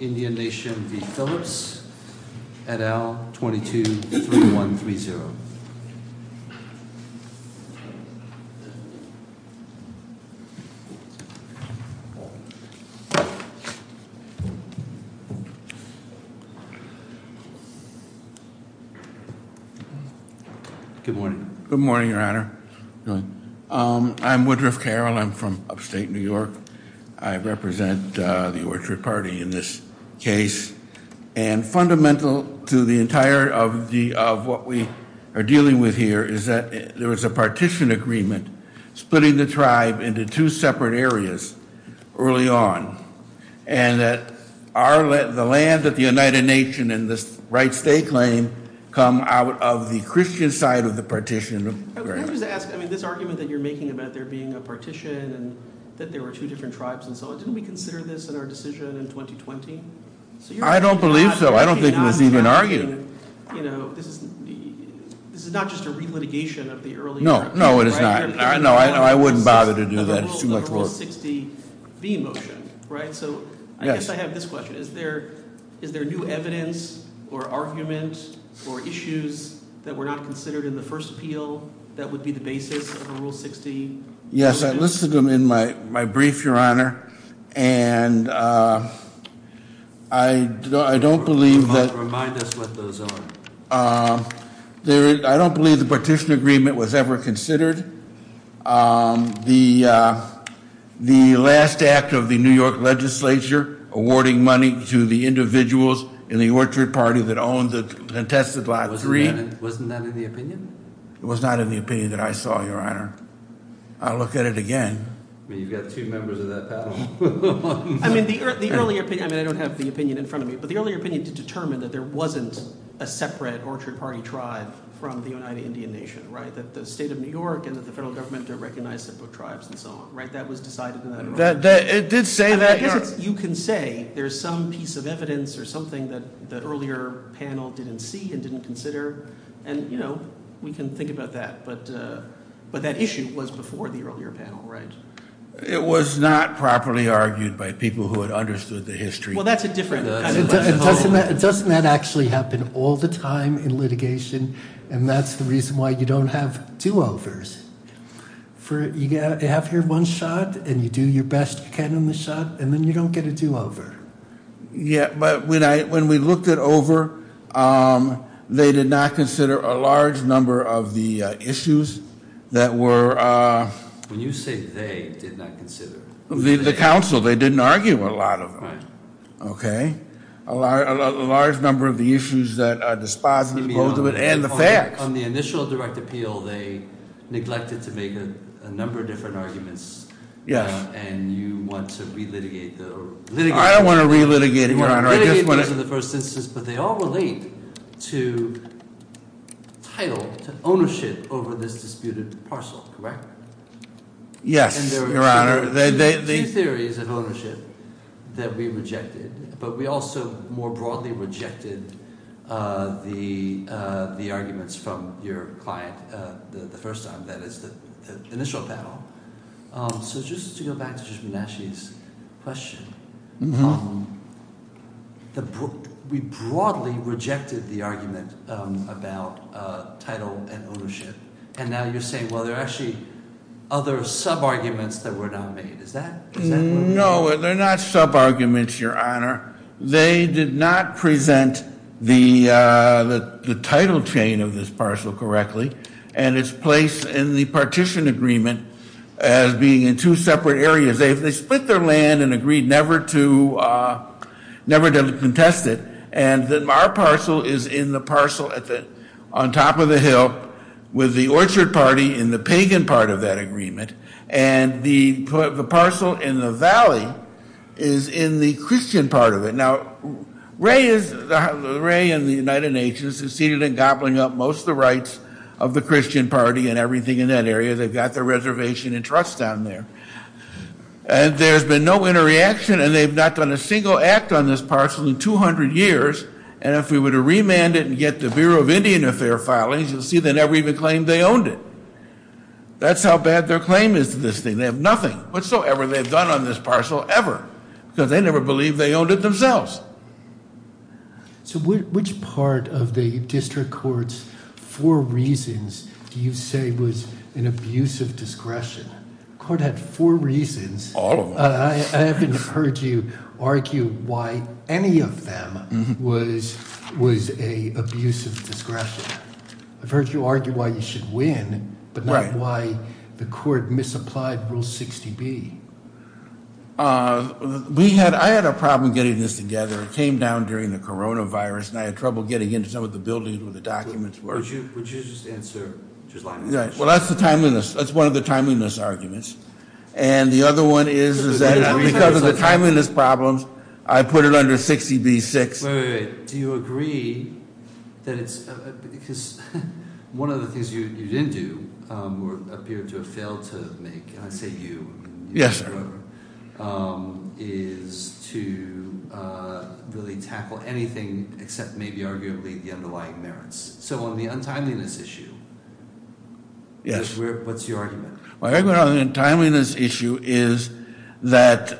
et al, 22-3130. Good morning. Good morning, your honor. I'm Woodruff Carroll, I'm from upstate New York. I represent the Orchard Party in this case. And fundamental to the entire of what we are dealing with here is that there was a partition agreement splitting the tribe into two separate areas early on. And that the land that the United Nation and the rights they claim come out of the Christian side of the partition of the land. I just ask, I mean, this argument that you're making about there being a partition and that there were two different tribes and so on. Didn't we consider this in our decision in 2020? I don't believe so. I don't think it was even argued. This is not just a re-litigation of the earlier- No, no it is not. No, I wouldn't bother to do that. It's too much work. Rule 60 v motion, right? So I guess I have this question. Is there new evidence or argument or issues that were not considered in the first appeal that would be the basis of a rule 60? Yes, I listed them in my brief, Your Honor. And I don't believe that- Remind us what those are. I don't believe the partition agreement was ever considered. The last act of the New York legislature awarding money to the individuals in the Orchard Party that owned the contested lot agreed- Wasn't that in the opinion? It was not in the opinion that I saw, Your Honor. I'll look at it again. You've got two members of that panel. I mean, the earlier opinion- I don't have the opinion in front of me. But the earlier opinion did determine that there wasn't a separate Orchard Party tribe from the United Indian Nation, right? That the state of New York and that the federal government recognized separate tribes and so on, right? That was decided in that- It did say that- You can say there's some piece of evidence or something that the earlier panel didn't see and didn't consider. And we can think about that. But that issue was before the earlier panel, right? It was not properly argued by people who had understood the history. Well, that's a different kind of- Doesn't that actually happen all the time in litigation? And that's the reason why you don't have two overs. You have your one shot, and you do your best can on the shot, and then you don't get a two over. Yeah, but when we looked it over, they did not consider a large number of the issues that were- When you say they did not consider- The council, they didn't argue a lot of them. Okay? A large number of the issues that are dispositive, both of it, and the facts. On the initial direct appeal, they neglected to make a number of different arguments. Yes. And you want to re-litigate the- I don't want to re-litigate, Your Honor. You want to re-litigate those in the first instance, but they all relate to title, to ownership over this disputed parcel, correct? Yes, Your Honor. There are two theories of ownership that we rejected, but we also more broadly rejected the arguments from your client the first time, that is the initial panel. So just to go back to Jashmin Ashy's question, we broadly rejected the argument about title and ownership. And now you're saying, well, there are actually other sub-arguments that were not made. Is that- No, they're not sub-arguments, Your Honor. They did not present the title chain of this parcel correctly. And it's placed in the partition agreement as being in two separate areas. They split their land and agreed never to contest it. And then our parcel is in the parcel on top of the hill with the Orchard Party in the pagan part of that agreement. And the parcel in the valley is in the Christian part of it. Now, Ray and the United Nations have succeeded in gobbling up most of the rights of the Christian Party and everything in that area. They've got their reservation and trust down there. And there's been no interreaction and they've not done a single act on this parcel in 200 years. And if we were to remand it and get the Bureau of Indian Affair filings, you'll see they never even claimed they owned it. That's how bad their claim is to this thing. They have nothing whatsoever they've done on this parcel ever because they never believed they owned it themselves. So which part of the district court's four reasons do you say was an abuse of discretion? Court had four reasons. All of them. I haven't heard you argue why any of them was a abuse of discretion. I've heard you argue why you should win but not why the court misapplied rule 60B. I had a problem getting this together. It came down during the coronavirus and I had trouble getting into some of the buildings where the documents were. Would you just answer, just line it up? Well, that's the timeliness. That's one of the timeliness arguments. And the other one is that because of the timeliness problems I put it under 60B-6. Wait, wait, wait. Do you agree that it's, because one of the things you didn't do or appear to have failed to make, and I say you. Yes, sir. Is to really tackle anything except maybe arguably the underlying merits. So on the untimeliness issue, what's your argument? My argument on the untimeliness issue is that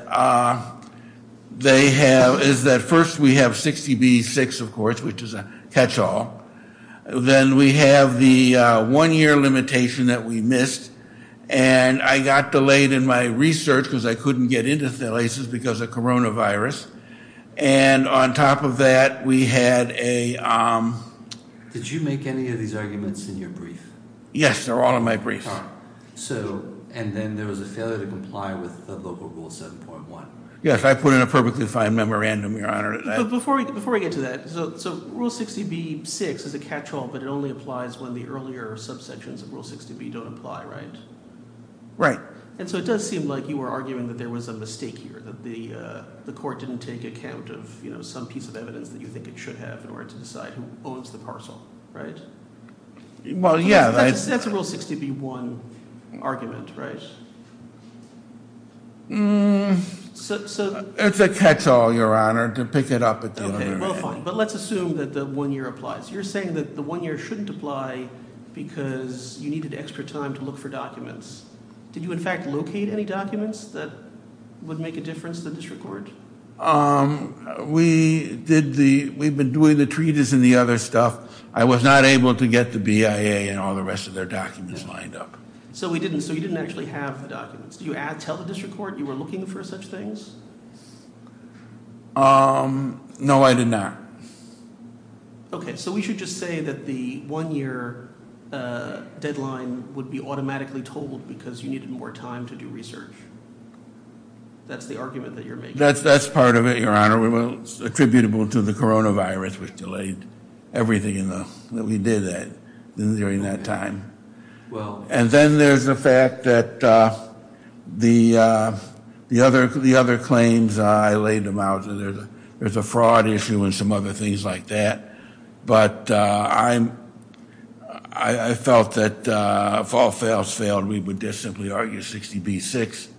they have, is that first we have 60B-6, of course, which is a catch-all. Then we have the one-year limitation that we missed. And I got delayed in my research because I couldn't get into places because of coronavirus. And on top of that, we had a... Did you make any of these arguments in your brief? Yes, they're all in my brief. So, and then there was a failure to comply with the local rule 7.1. Yes, I put in a perfectly fine memorandum, Your Honor. Before we get to that, so rule 60B-6 is a catch-all, but it only applies when the earlier subsections of rule 60B don't apply, right? Right. And so it does seem like you were arguing that there was a mistake here, that the court didn't take account of some piece of evidence that you think it should have in order to decide who owns the parcel, right? Well, yeah. That's a rule 60B-1 argument, right? It's a catch-all, Your Honor, to pick it up at the end. Okay, well, fine. But let's assume that the one-year applies. You're saying that the one-year shouldn't apply because you needed extra time to look for documents. Did you, in fact, locate any documents that would make a difference to the district court? We've been doing the treatise and the other stuff. I was not able to get the BIA and all the rest of their documents lined up. So you didn't actually have the documents. Did you tell the district court you were looking for such things? No, I did not. Okay, so we should just say that the one-year deadline would be automatically totaled because you needed more time to do research. That's the argument that you're making. That's part of it, Your Honor. It was attributable to the coronavirus which delayed everything that we did during that time. And then there's the fact that the other claims, I laid them out. There's a fraud issue and some other things like that. But I felt that if all else failed, we would just simply argue 60B-6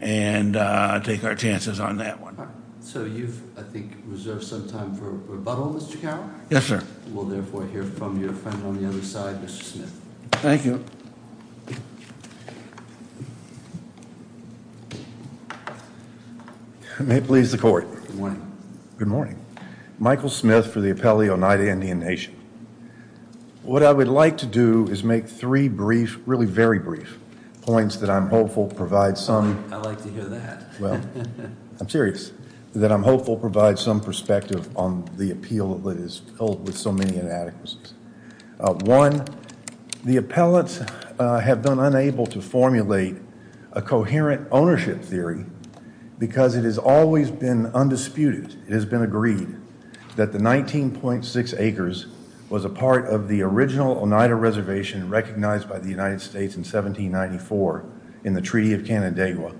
and take our chances on that one. So you've, I think, reserved some time for rebuttal, Mr. Carroll. Yes, sir. We'll therefore hear from your friend on the other side, Mr. Smith. Thank you. May it please the court. Good morning. Good morning. Michael Smith for the Appellee Onida Indian Nation. What I would like to do is make three brief, really very brief points that I'm hopeful provide some. I like to hear that. Well, I'm serious that I'm hopeful provide some perspective on the appeal that is filled with so many inadequacies. One, the appellants have been unable to formulate a coherent ownership theory because it has always been undisputed. It has been agreed that the 19.6 acres was a part of the original Onida Reservation recognized by the United States in 1794 in the Treaty of Canandaigua.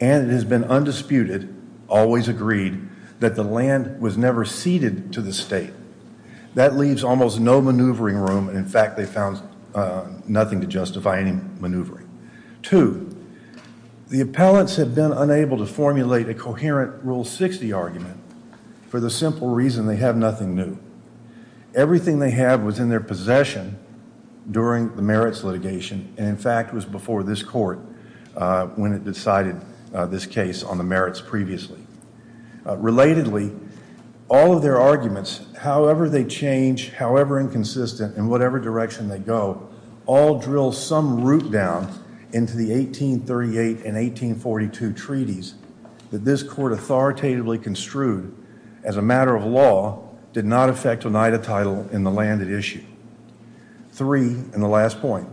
And it has been undisputed, always agreed, that the land was never ceded to the state. That leaves almost no maneuvering room, and in fact, they found nothing to justify any maneuvering. Two, the appellants have been unable to formulate a coherent Rule 60 argument for the simple reason they have nothing new. Everything they have was in their possession during the merits litigation, and in fact, was before this court when it decided this case on the merits previously. Relatedly, all of their arguments, however they change, however inconsistent, in whatever direction they go, all drill some root down into the 1838 and 1842 treaties that this court authoritatively construed as a matter of law did not affect Onida title in the land at issue. Three, and the last point,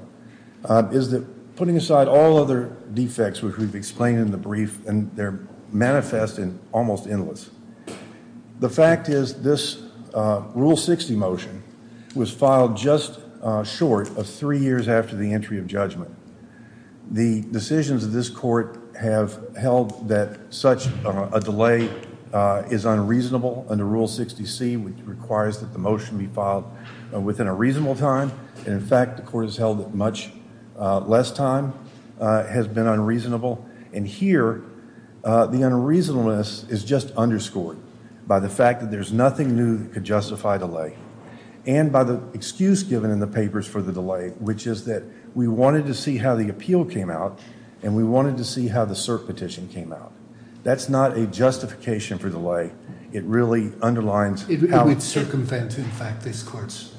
is that putting aside all other defects which we've explained in the brief, and they're manifest and almost endless. The fact is this Rule 60 motion was filed just short of three years after the entry of judgment. The decisions of this court have held that such a delay is unreasonable under Rule 60C, which requires that the motion be filed within a reasonable time, and in fact, the court has held it much less time, has been unreasonable, and here, the unreasonableness is just underscored by the fact that there's nothing new that could justify delay, and by the excuse given in the papers for the delay, which is that we wanted to see how the appeal came out, and we wanted to see how the cert petition came out. That's not a justification for delay. It really underlines how it's circumvented the fact this court's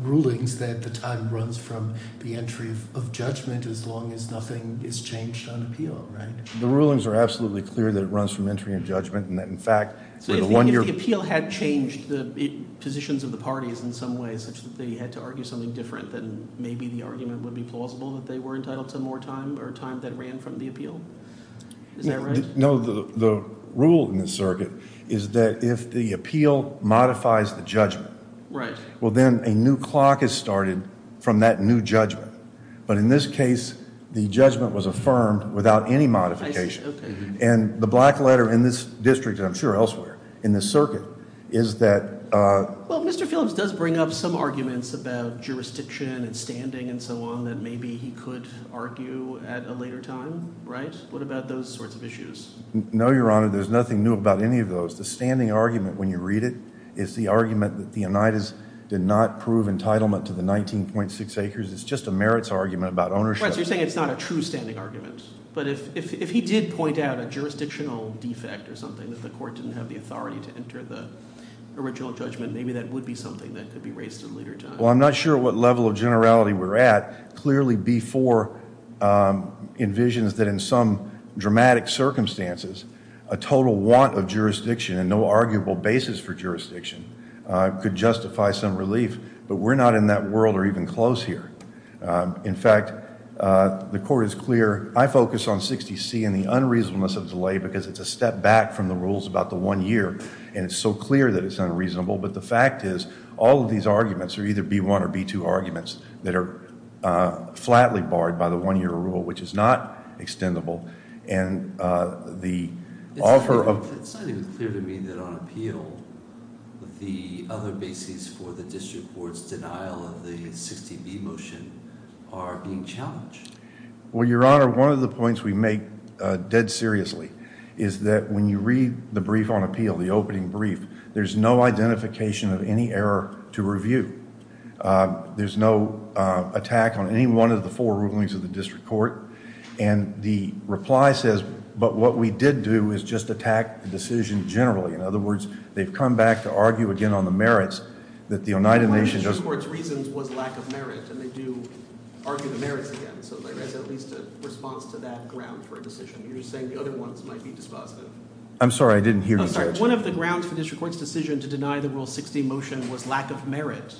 rulings that the time runs from the entry of judgment as long as nothing is changed on appeal, right? The rulings are absolutely clear that it runs from entry and judgment, and that in fact, for the one year- So if the appeal had changed the positions of the parties in some way such that they had to argue something different, then maybe the argument would be plausible that they were entitled to more time, or time that ran from the appeal? Is that right? No, the rule in the circuit is that if the appeal modifies the judgment, well, then a new clock is started from that new judgment, but in this case, the judgment was affirmed without any modification, and the black letter in this district, and I'm sure elsewhere in the circuit, is that- Well, Mr. Phillips does bring up some arguments about jurisdiction and standing and so on that maybe he could argue at a later time, right? What about those sorts of issues? No, Your Honor, there's nothing new about any of those. The standing argument when you read it is the argument that the Oneidas did not prove entitlement to the 19.6 acres. It's just a merits argument about ownership. Right, so you're saying it's not a true standing argument, but if he did point out a jurisdictional defect or something that the court didn't have the authority to enter the original judgment, maybe that would be something that could be raised at a later time. Well, I'm not sure what level of generality we're at. Clearly, B4 envisions that in some dramatic circumstances, a total want of jurisdiction and no arguable basis for jurisdiction could justify some relief, but we're not in that world or even close here. In fact, the court is clear. I focus on 60C and the unreasonableness of delay because it's a step back from the rules about the one year, and it's so clear that it's unreasonable, but the fact is, all of these arguments are either B1 or B2 arguments that are flatly barred by the one-year rule, which is not extendable, and the offer of- It's not even clear to me that on appeal, the other bases for the district court's denial of the 60B motion are being challenged. Well, Your Honor, one of the points we make dead seriously is that when you read the brief on appeal, the opening brief, there's no identification of any error to review. There's no attack on any one of the four rulings of the district court, and the reply says, but what we did do is just attack the decision generally. In other words, they've come back to argue again on the merits that the United Nations- One of the district court's reasons was lack of merit, and they do argue the merits again, so there is at least a response to that ground for a decision. You're saying the other ones might be dispositive. I'm sorry, I didn't hear you, Judge. One of the grounds for district court's decision to deny the Rule 60 motion was lack of merit,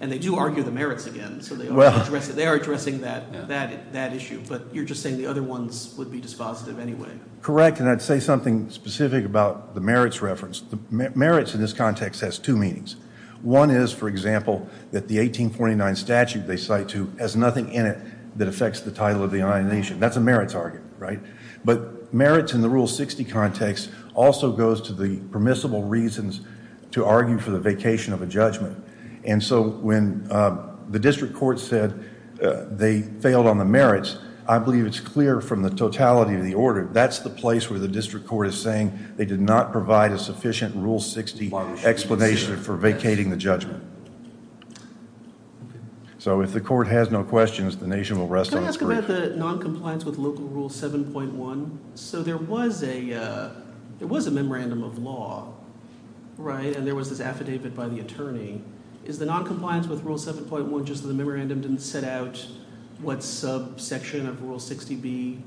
and they do argue the merits again, so they are addressing that. That issue, but you're just saying the other ones would be dispositive anyway. Correct, and I'd say something specific about the merits reference. Merits in this context has two meanings. One is, for example, that the 1849 statute they cite to has nothing in it that affects the title of the United Nations. That's a merits argument, right? But merits in the Rule 60 context also goes to the permissible reasons to argue for the vacation of a judgment, and so when the district court said they failed on the merits, I believe it's clear from the totality of the order, that's the place where the district court is saying they did not provide a sufficient Rule 60 explanation for vacating the judgment. So if the court has no questions, the nation will rest on its feet. Can I ask about the noncompliance with Local Rule 7.1? So there was a memorandum of law, right, and there was this affidavit by the attorney. Is the noncompliance with Rule 7.1 just the memorandum didn't set out what subsection of Rule 60b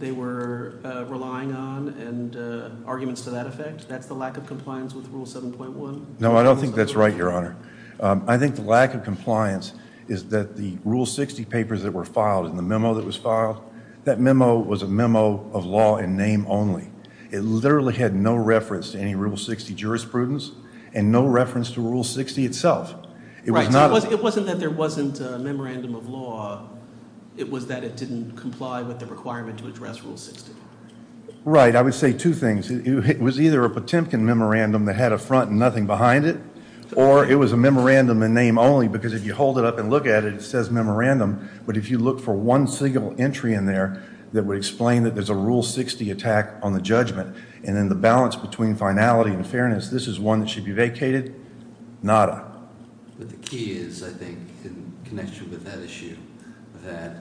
they were relying on and arguments to that effect? That's the lack of compliance with Rule 7.1? No, I don't think that's right, Your Honor. I think the lack of compliance is that the Rule 60 papers that were filed and the memo that was filed, that memo was a memo of law in name only. It literally had no reference to any Rule 60 jurisprudence and no reference to Rule 60 itself. Right, so it wasn't that there wasn't a memorandum of law, it was that it didn't comply with the requirement to address Rule 60. Right, I would say two things. It was either a Potemkin memorandum that had a front and nothing behind it, or it was a memorandum in name only because if you hold it up and look at it, it says memorandum, but if you look for one single entry in there that would explain that there's a Rule 60 attack on the judgment and then the balance between finality and fairness, this is one that should be vacated. Nada. But the key is, I think, in connection with that issue, that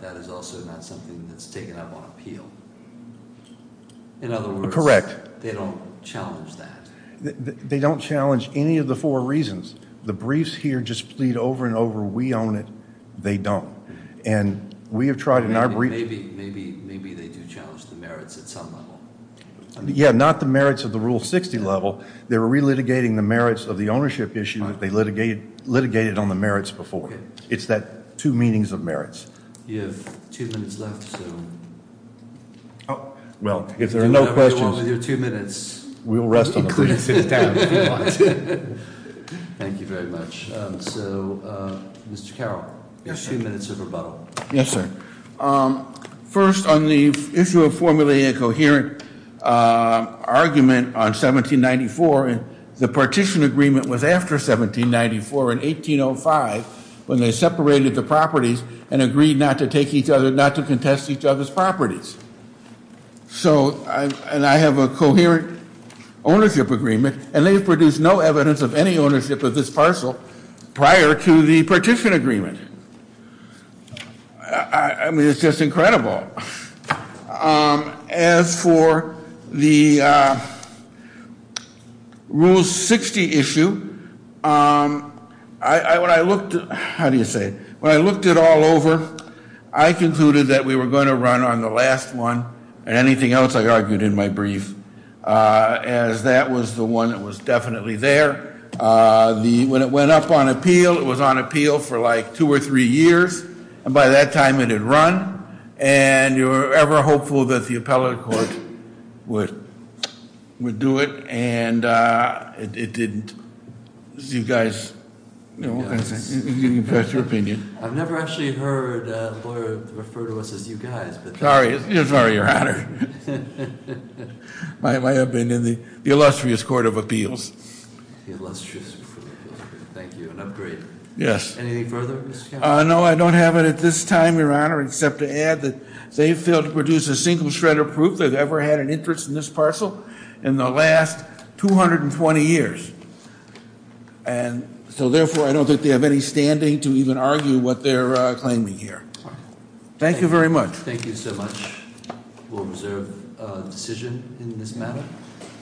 that is also not something that's taken up on appeal. In other words. Correct. They don't challenge that. They don't challenge any of the four reasons. The briefs here just plead over and over, we own it, they don't. And we have tried in our brief. Maybe they do challenge the merits at some level. Yeah, not the merits of the Rule 60 level. They were re-litigating the merits of the ownership issue that they litigated on the merits before. It's that two meanings of merits. You have two minutes left, so. Well, if there are no questions. You're two minutes. We'll rest on the briefs in town if you want. Thank you very much. So, Mr. Carroll, you have two minutes of rebuttal. Yes, sir. First, on the issue of formulating a coherent argument on 1794 and the partition agreement was after 1794 in 1805 when they separated the properties and agreed not to take each other, not to contest each other's properties. So, and I have a coherent ownership agreement and they've produced no evidence of any ownership of this parcel prior to the partition agreement. I mean, it's just incredible. Well, as for the Rule 60 issue, I, when I looked, how do you say it? When I looked it all over, I concluded that we were gonna run on the last one and anything else I argued in my brief as that was the one that was definitely there. When it went up on appeal, it was on appeal for like two or three years and by that time it had run and you were ever hopeful that the appellate court would do it and it didn't. You guys, you can express your opinion. I've never actually heard a lawyer refer to us as you guys. Sorry, you're sorry, Your Honor. My opinion, the illustrious Court of Appeals. The illustrious Court of Appeals. Thank you, an upgrade. Yes. Anything further, Mr. Carroll? No, I don't have it at this time, Your Honor, except to add that they failed to produce a single shred of proof they've ever had an interest in this parcel in the last 220 years and so therefore I don't think they have any standing to even argue what they're claiming here. Thank you very much. Thank you so much. We'll reserve a decision in this matter.